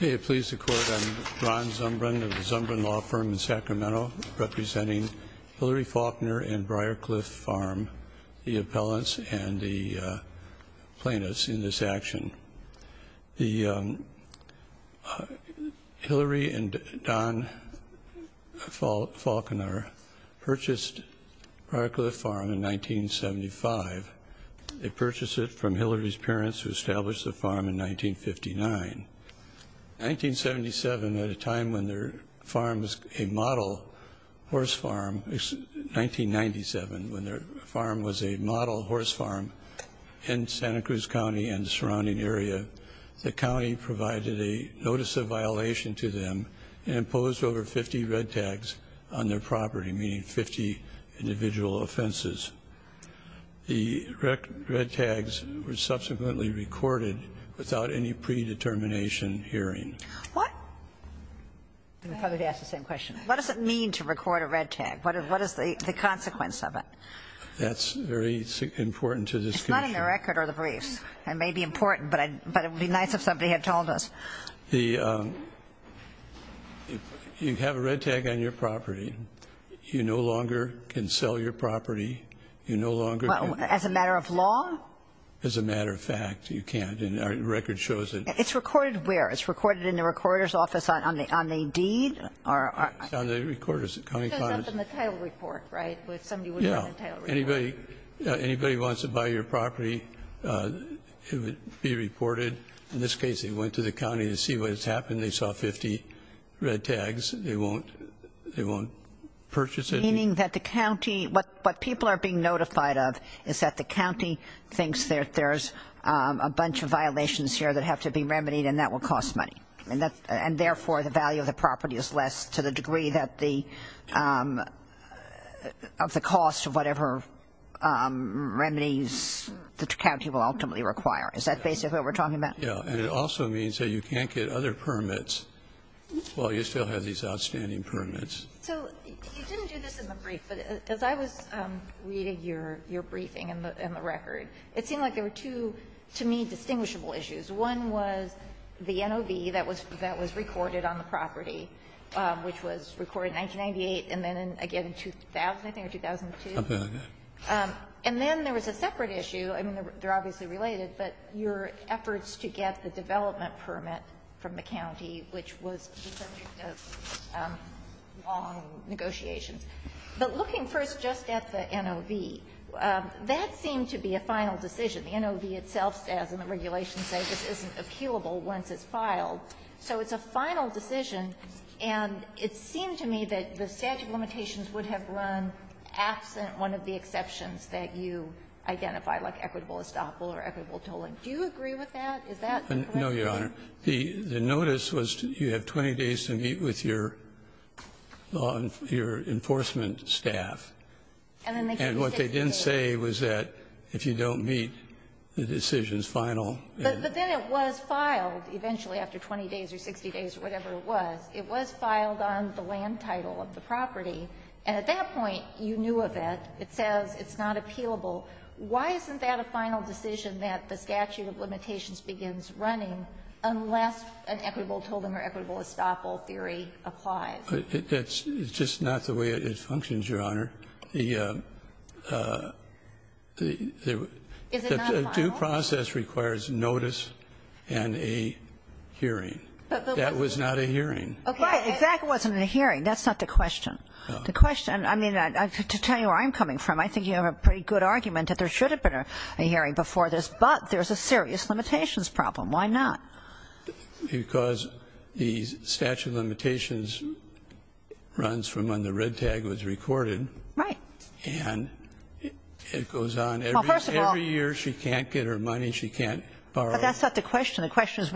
May it please the court, I'm Ron Zumbrun of the Zumbrun Law Firm in Sacramento representing Hillary Faulconer and Briarcliff Farm, the appellants and the plaintiffs in this action. Hillary and Don Faulconer purchased Briarcliff Farm in 1975. They purchased it from Hillary's parents who established the farm in 1959. In 1977 at a time when their farm was a model horse farm, 1997 when their farm was a model horse farm in Santa Cruz County and the surrounding area, the county provided a notice of violation to them and imposed over 50 red tags on their property, meaning 50 individual offenses. The red tags were hearing. What does it mean to record a red tag? What is the consequence of it? That's very important to this case. It's not in the record or the briefs. It may be important but it would be nice if somebody had told us. You have a red tag on your property, you no longer can sell your property, you no longer... As a matter of law? As a matter of fact, you can't and our record shows it. It's recorded where? It's recorded in the recorder's office on the deed? It's on the recorder's... It says up in the title report, right? Yeah. Anybody wants to buy your property, it would be reported. In this case, they went to the county to see what has happened. They saw 50 red tags. They won't purchase it. Meaning that the county, what people are being notified of is that the county thinks that there's a bunch of violations here that have to be remedied and that will cost money. And that, and therefore, the value of the property is less to the degree that the, of the cost of whatever remedies the county will ultimately require. Is that basically what we're talking about? Yeah, and it also means that you can't get other permits while you still have these outstanding permits. So you didn't do this in the brief, but as I was reading your briefing and the record, it seemed like there were two, to me, distinguishable issues. One was the NOV that was recorded on the property, which was recorded in 1998 and then again in 2000, I think, or 2002. Okay. And then there was a separate issue, I mean, they're obviously related, but your efforts to get the development permit from the county, which was the subject of long negotiations. But looking first just at the NOV, that seemed to be a final decision. The NOV itself says, and the regulations say, this isn't appealable once it's filed. So it's a final decision, and it seemed to me that the statute of limitations would have run absent one of the exceptions that you identify, like equitable estoppel or equitable No, Your Honor. The notice was you have 20 days to meet with your law and your enforcement staff. And what they didn't say was that if you don't meet, the decision is final. But then it was filed eventually after 20 days or 60 days or whatever it was. It was filed on the land title of the property. And at that point, you knew of it. It says it's not appealable. Why isn't that a final decision that the statute of limitations begins running unless an equitable tolling or equitable estoppel theory applies? It's just not the way it functions, Your Honor. The due process requires notice and a hearing. That was not a hearing. Okay. If that wasn't a hearing, that's not the question. The question, I mean, to tell you where I'm coming from, I think you have a pretty good argument that there should be a serious limitations problem. Why not? Because the statute of limitations runs from when the red tag was recorded. Right. And it goes on. Well, first of all Every year she can't get her money. She can't borrow. But that's not the question. The question is,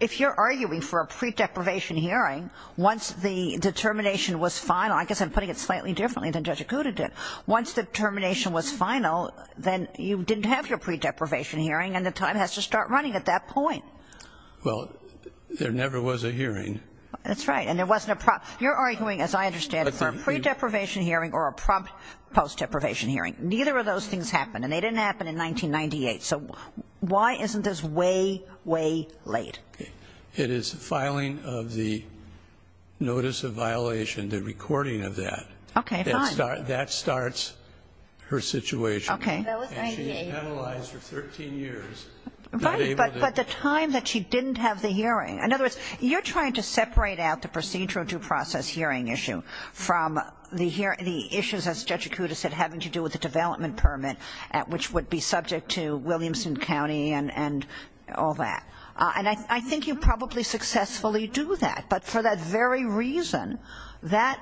if you're arguing for a pre-deprivation hearing, once the determination was final, I guess I'm putting it slightly differently than Judge Acuda did, once the determination was final, then you didn't have your pre-deprivation hearing and the time has to start running at that point. Well, there never was a hearing. That's right. And there wasn't a prompt. You're arguing, as I understand it, for a pre-deprivation hearing or a prompt post-deprivation hearing. Neither of those things happened. And they didn't happen in 1998. So why isn't this way, way late? It is filing of the notice of violation, the recording of that. Okay, fine. That starts her situation. Okay. And she is penalized for 13 years. Right, but the time that she didn't have the hearing. In other words, you're trying to separate out the procedural due process hearing issue from the issues, as Judge Acuda said, having to do with the development permit, which would be subject to Williamson County and all that. And I think you probably successfully do that. But for that very reason, that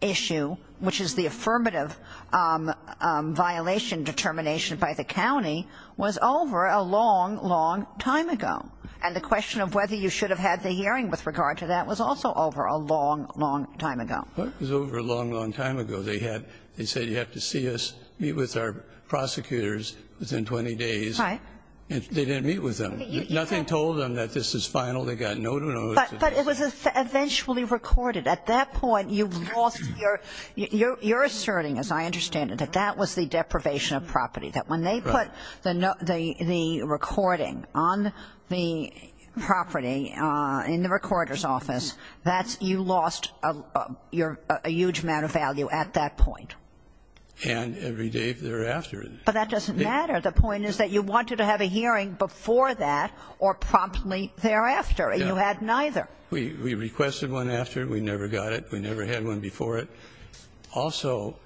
issue, which is the affirmative violation determination by the county, was over a long, long time ago. And the question of whether you should have had the hearing with regard to that was also over a long, long time ago. It was over a long, long time ago. They said you have to see us, meet with our prosecutors within 20 days. Right. And they didn't meet with them. Nothing told them that this is final. They got no notice. But it was eventually recorded. At that point, you lost your, you're asserting, as I understand it, that that was the deprivation of property. That when they put the recording on the property in the recorder's office, that's, you lost a huge amount of value at that point. And every day thereafter. But that doesn't matter. The point is that you wanted to have a hearing before that or promptly thereafter. You had neither. We requested one after. We never got it. We never had one before it. Also,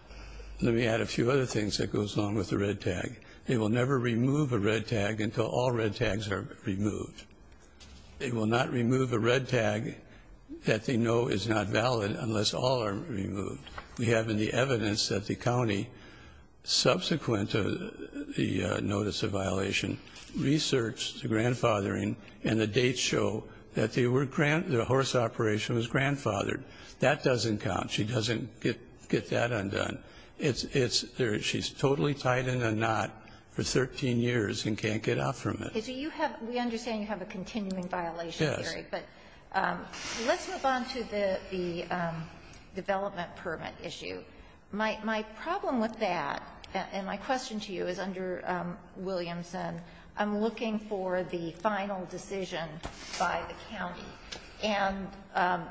let me add a few other things that goes along with the red tag. They will never remove a red tag until all red tags are removed. They will not remove a red tag that they know is not valid unless all are removed. We have in the evidence that the county, subsequent to the and the dates show that the horse operation was grandfathered. That doesn't count. She doesn't get that undone. It's there. She's totally tied in a knot for 13 years and can't get out from it. So you have, we understand you have a continuing violation theory. Yes. But let's move on to the development permit issue. My problem with that, and my question to you is under Williamson, I'm looking for the final decision by the county. And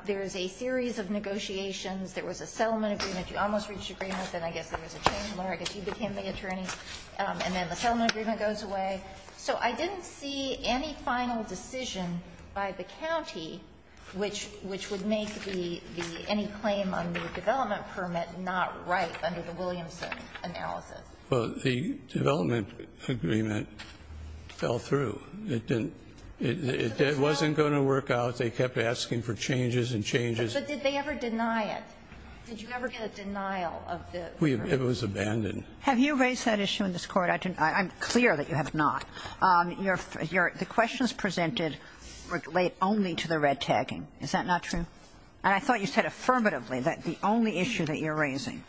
there's a series of negotiations. There was a settlement agreement. You almost reached agreement, then I guess there was a change. I guess you became the attorney. And then the settlement agreement goes away. So I didn't see any final decision by the county, which would make any claim on the development permit not right under the Williamson analysis. Well, the development agreement fell through. It didn't, it wasn't going to work out. They kept asking for changes and changes. But did they ever deny it? Did you ever get a denial of the permit? It was abandoned. Have you raised that issue in this Court? I'm clear that you have not. The questions presented relate only to the red tagging. Is that not true? And I thought you said affirmatively that the only issue that you're raising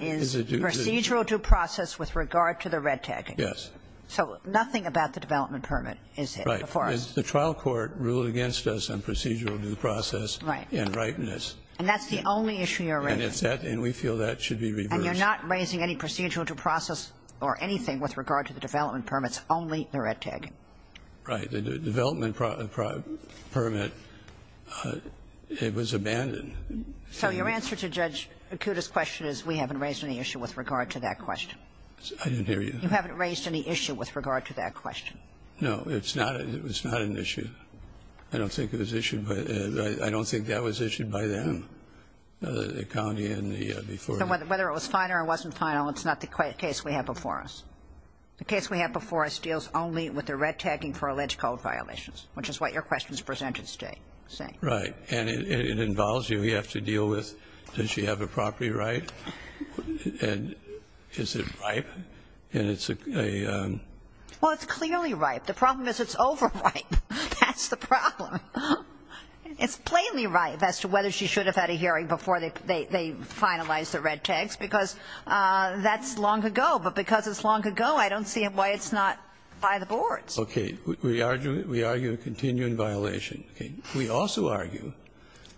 is procedural due process with regard to the red tagging. Yes. So nothing about the development permit is before us. Right. The trial court ruled against us on procedural due process and rightness. And that's the only issue you're raising. And it's that, and we feel that should be reversed. And you're not raising any procedural due process or anything with regard to the development permits, only the red tagging. Right. The development permit, it was abandoned. So your answer to Judge Akuta's question is we haven't raised any issue with regard to that question. I didn't hear you. You haven't raised any issue with regard to that question. No. It's not an issue. I don't think it was issued by them. I don't think that was issued by them, the county and the before them. So whether it was final or it wasn't final, it's not the case we have before us. The case we have before us deals only with the red tagging for alleged code violations, which is what your questions presented state. Right. And it involves you. You have to deal with, does she have a property right? And is it ripe? And it's a... Well, it's clearly ripe. The problem is it's overripe. That's the problem. It's plainly ripe as to whether she should have had a hearing before they finalized the red tags, because that's long ago. But because it's long ago, I don't see why it's not by the boards. Okay. We argue a continuing violation. Okay. We also argue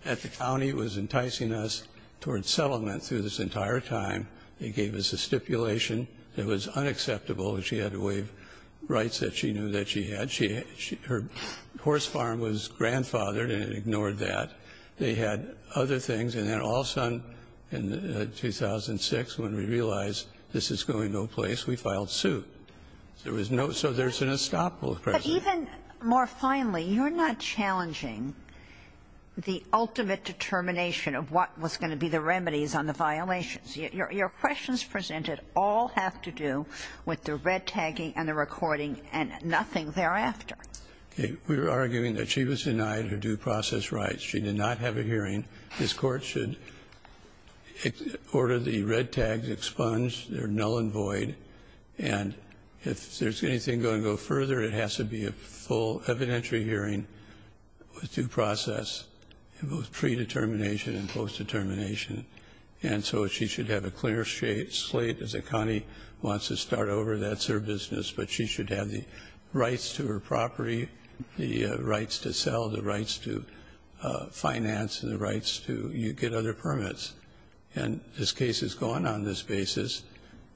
that the county was enticing us toward settlement through this entire time. They gave us a stipulation that was unacceptable. She had to waive rights that she knew that she had. Her horse farm was grandfathered, and it ignored that. They had other things. And then also in 2006, when we realized this is going no place, we filed suit. There was no... So there's an unstoppable presence. Even more finally, you're not challenging the ultimate determination of what was going to be the remedies on the violations. Your questions presented all have to do with the red tagging and the recording and nothing thereafter. Okay. We were arguing that she was denied her due process rights. She did not have a hearing. This Court should order the red tags expunged. They're null and void. And if there's anything going to go further, it has to be a full evidentiary hearing with due process in both predetermination and post-determination. And so she should have a clear slate as a county wants to start over. That's her business. But she should have the rights to her property, the rights to sell, the rights to finance, and the rights to get other permits. And this case has gone on this basis.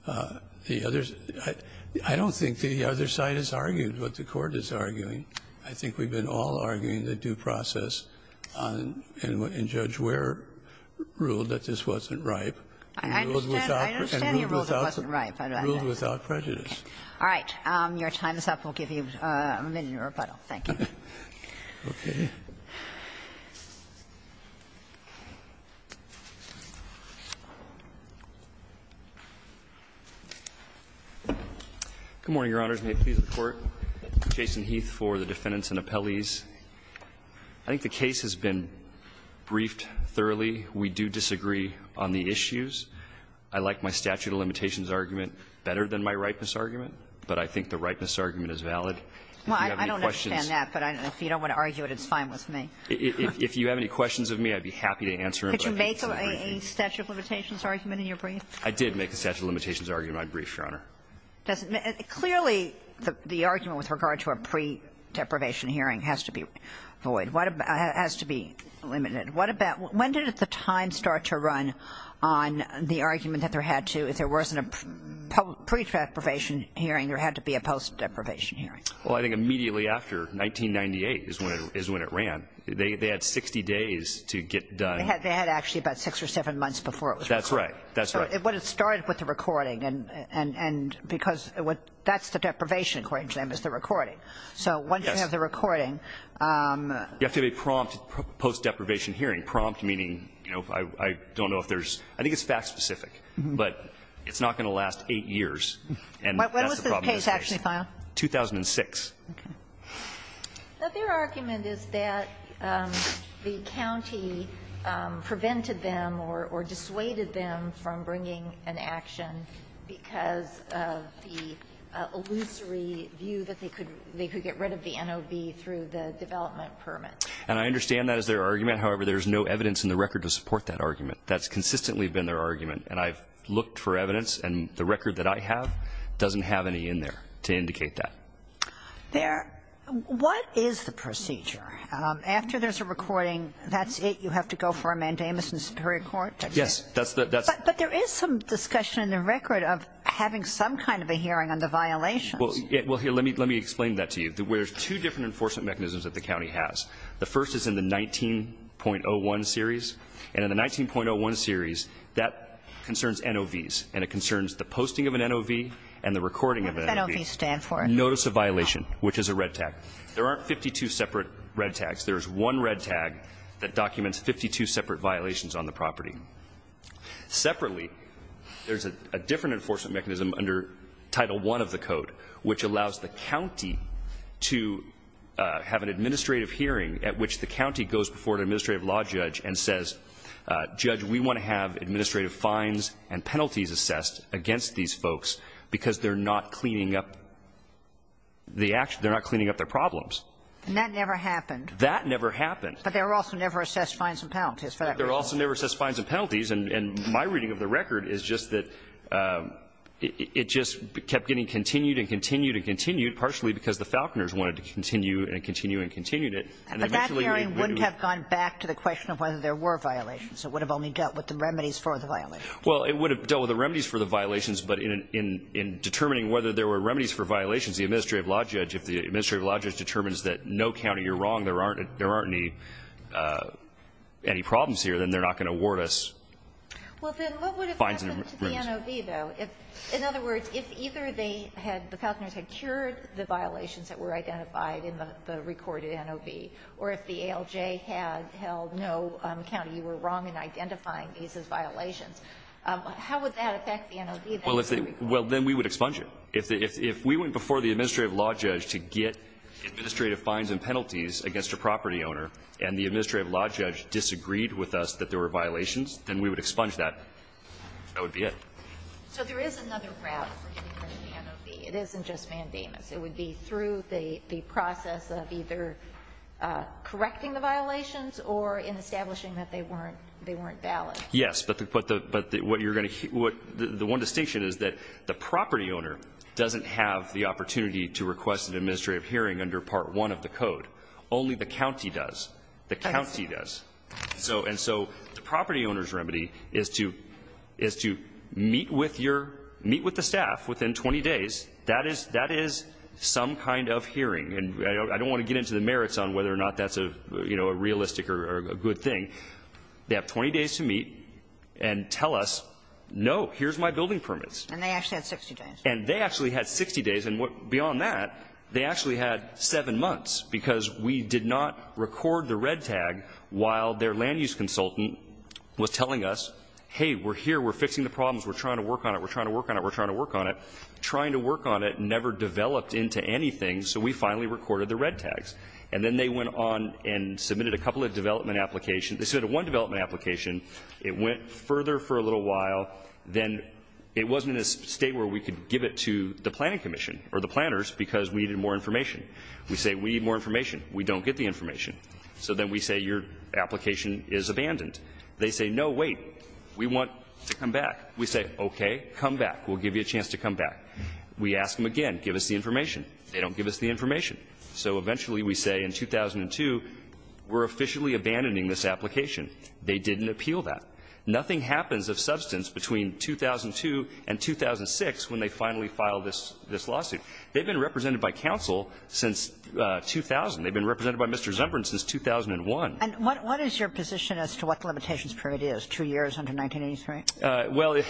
The others – I don't think the other side has argued what the Court is arguing. I think we've been all arguing the due process and Judge Wehr ruled that this wasn't ripe and ruled without prejudice. I understand you ruled it wasn't ripe. All right. Your time is up. Thank you. Okay. Good morning, Your Honors. May it please the Court. Jason Heath for the defendants and appellees. I think the case has been briefed thoroughly. We do disagree on the issues. I like my statute of limitations argument better than my ripeness argument. But I think the ripeness argument is valid. Well, I don't understand that, but if you don't want to argue it, it's fine with me. If you have any questions of me, I'd be happy to answer them. Did you make a statute of limitations argument in your brief? I did make a statute of limitations argument in my brief, Your Honor. Clearly, the argument with regard to a pre-deprivation hearing has to be void – has to be limited. When did the time start to run on the argument that there had to – if there wasn't a pre-deprivation hearing, there had to be a post-deprivation hearing? Well, I think immediately after, 1998, is when it ran. They had 60 days to get done. They had actually about six or seven months before it was recorded. That's right. That's right. But it started with the recording, and because that's the deprivation, according to them, is the recording. So once you have the recording – You have to have a prompt post-deprivation hearing. Prompt meaning, you know, I don't know if there's – I think it's fact-specific. But it's not going to last eight years. And that's the problem with this case. When was the case actually filed? 2006. Okay. But their argument is that the county prevented them or dissuaded them from bringing an action because of the illusory view that they could get rid of the NOV through the development permit. And I understand that as their argument. However, there's no evidence in the record to support that argument. That's consistently been their argument. And I've looked for evidence, and the record that I have doesn't have any in there to indicate that. There – what is the procedure? After there's a recording, that's it? You have to go for a mandamus in the Superior Court? Yes. That's the – But there is some discussion in the record of having some kind of a hearing on the violations. Well, here, let me explain that to you. There's two different enforcement mechanisms that the county has. The first is in the 19.01 series. And in the 19.01 series, that concerns NOVs. And it concerns the posting of an NOV and the recording of an NOV. What does an NOV stand for? Notice of violation, which is a red tag. There aren't 52 separate red tags. There's one red tag that documents 52 separate violations on the property. Separately, there's a different enforcement mechanism under Title I of the Code, which allows the county to have an administrative hearing at which the county goes before an administrative law judge and says, Judge, we want to have administrative fines and penalties assessed against these folks because they're not cleaning up the actual – they're not cleaning up their problems. And that never happened. That never happened. But there were also never assessed fines and penalties for that reason. There were also never assessed fines and penalties. And my reading of the record is just that it just kept getting continued and continued and continued, partially because the Falconers wanted to continue and continue and continued it. But that hearing wouldn't have gone back to the question of whether there were violations. It would have only dealt with the remedies for the violations. Well, it would have dealt with the remedies for the violations. But in determining whether there were remedies for violations, the administrative law judge, if the administrative law judge determines that no, county, you're wrong, there aren't any problems here, then they're not going to award us fines and remuneration. Well, then what would have happened to the NOV, though? In other words, if either they had – the Falconers had cured the violations that were identified in the recorded NOV, or if the ALJ had held no, county, you were wrong in identifying these as violations. How would that affect the NOV? Well, then we would expunge it. If we went before the administrative law judge to get administrative fines and penalties against a property owner, and the administrative law judge disagreed with us that there were violations, then we would expunge that. That would be it. So there is another route for getting rid of the NOV. It isn't just mandamus. It would be through the process of either correcting the violations or in establishing that they weren't valid. Yes, but the one distinction is that the property owner doesn't have the opportunity to request an administrative hearing under Part 1 of the code. Only the county does. The county does. And so the property owner's remedy is to meet with the staff within 20 days. That is some kind of hearing. And I don't want to get into the merits on whether or not that's a realistic or a good thing. They have 20 days to meet and tell us, no, here's my building permits. And they actually had 60 days. And they actually had 60 days. And beyond that, they actually had 7 months because we did not record the red tag while their land use consultant was telling us, hey, we're here, we're fixing the problems, we're trying to work on it, we're trying to work on it, we're trying to work on it. Trying to work on it never developed into anything, so we finally recorded the red tags. And then they went on and submitted a couple of development applications. They submitted one development application. It went further for a little while. Then it wasn't in a state where we could give it to the planning commission or the planners because we needed more information. We say we need more information. We don't get the information. So then we say your application is abandoned. They say, no, wait, we want to come back. We say, okay, come back. We'll give you a chance to come back. We ask them again, give us the information. They don't give us the information. So eventually we say in 2002, we're officially abandoning this application. They didn't appeal that. Nothing happens of substance between 2002 and 2006 when they finally file this lawsuit. They've been represented by counsel since 2000. They've been represented by Mr. Zembrin since 2001. And what is your position as to what the limitations period is, two years under 1983? Well,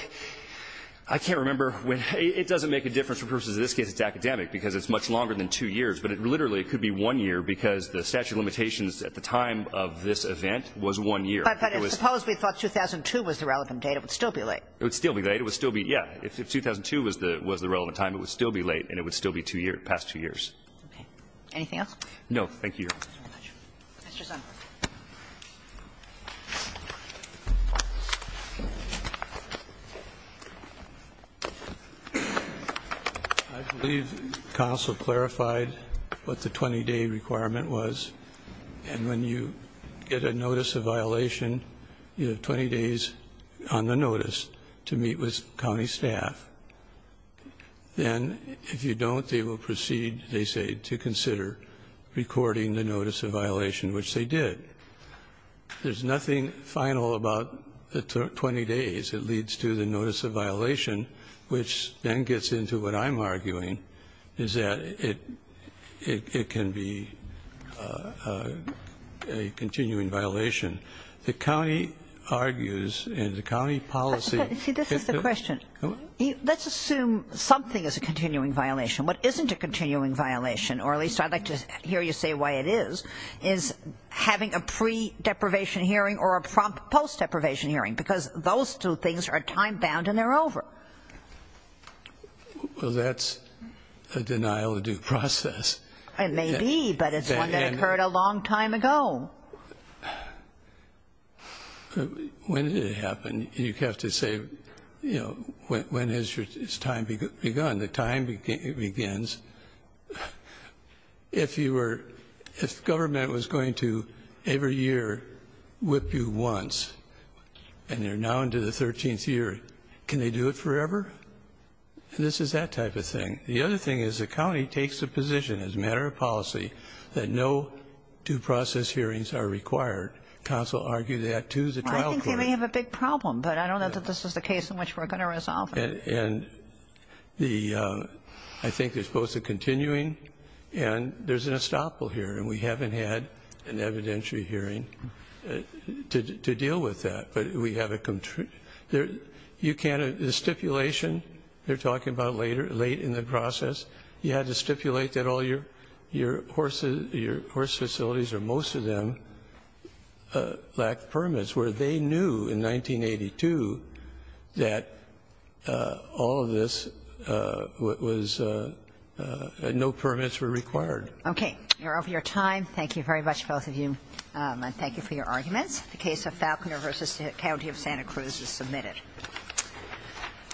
I can't remember. It doesn't make a difference for purposes of this case. It's academic because it's much longer than two years. But it literally could be one year because the statute of limitations at the time of this event was one year. But suppose we thought 2002 was the relevant date. It would still be late. It would still be late. It would still be, yeah. If 2002 was the relevant time, it would still be late, and it would still be two years, past two years. Okay. Anything else? No, thank you. Thank you very much. Mr. Zembrin. I believe counsel clarified what the 20-day requirement was. And when you get a notice of violation, you have 20 days on the notice to meet with county staff. Then if you don't, they will proceed, they say, to consider recording the notice of violation, which they did. There's nothing final about the 20 days. It leads to the notice of violation, which then gets into what I'm arguing, is that it can be a continuing violation. The county argues, and the county policy ---- See, this is the question. Let's assume something is a continuing violation. What isn't a continuing violation, or at least I'd like to hear you say why it is, is having a pre-deprivation hearing or a post-deprivation hearing, because those two things are time-bound and they're over. Well, that's a denial of due process. It may be, but it's one that occurred a long time ago. When did it happen? You have to say, you know, when has your time begun? When the time begins, if you were ---- if government was going to, every year, whip you once, and you're now into the 13th year, can they do it forever? And this is that type of thing. The other thing is the county takes a position as a matter of policy that no due process hearings are required. Council argued that to the trial court. I think they may have a big problem, but I don't know that this is the case in which we're going to resolve it. And the ---- I think there's both a continuing and there's an estoppel here, and we haven't had an evidentiary hearing to deal with that. But we have a ---- you can't ---- the stipulation, they're talking about late in the process, you had to stipulate that all your horse facilities or most of them lack permits, where they knew in 1982 that all of this was ---- no permits were required. Okay. You're over your time. Thank you very much, both of you. And thank you for your arguments. The case of Falconer v. County of Santa Cruz is submitted.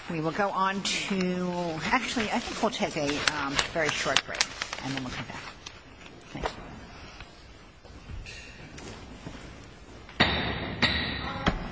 We will go on to ---- actually, I think we'll take a very short break, and then we'll come back. Thank you. Thank you.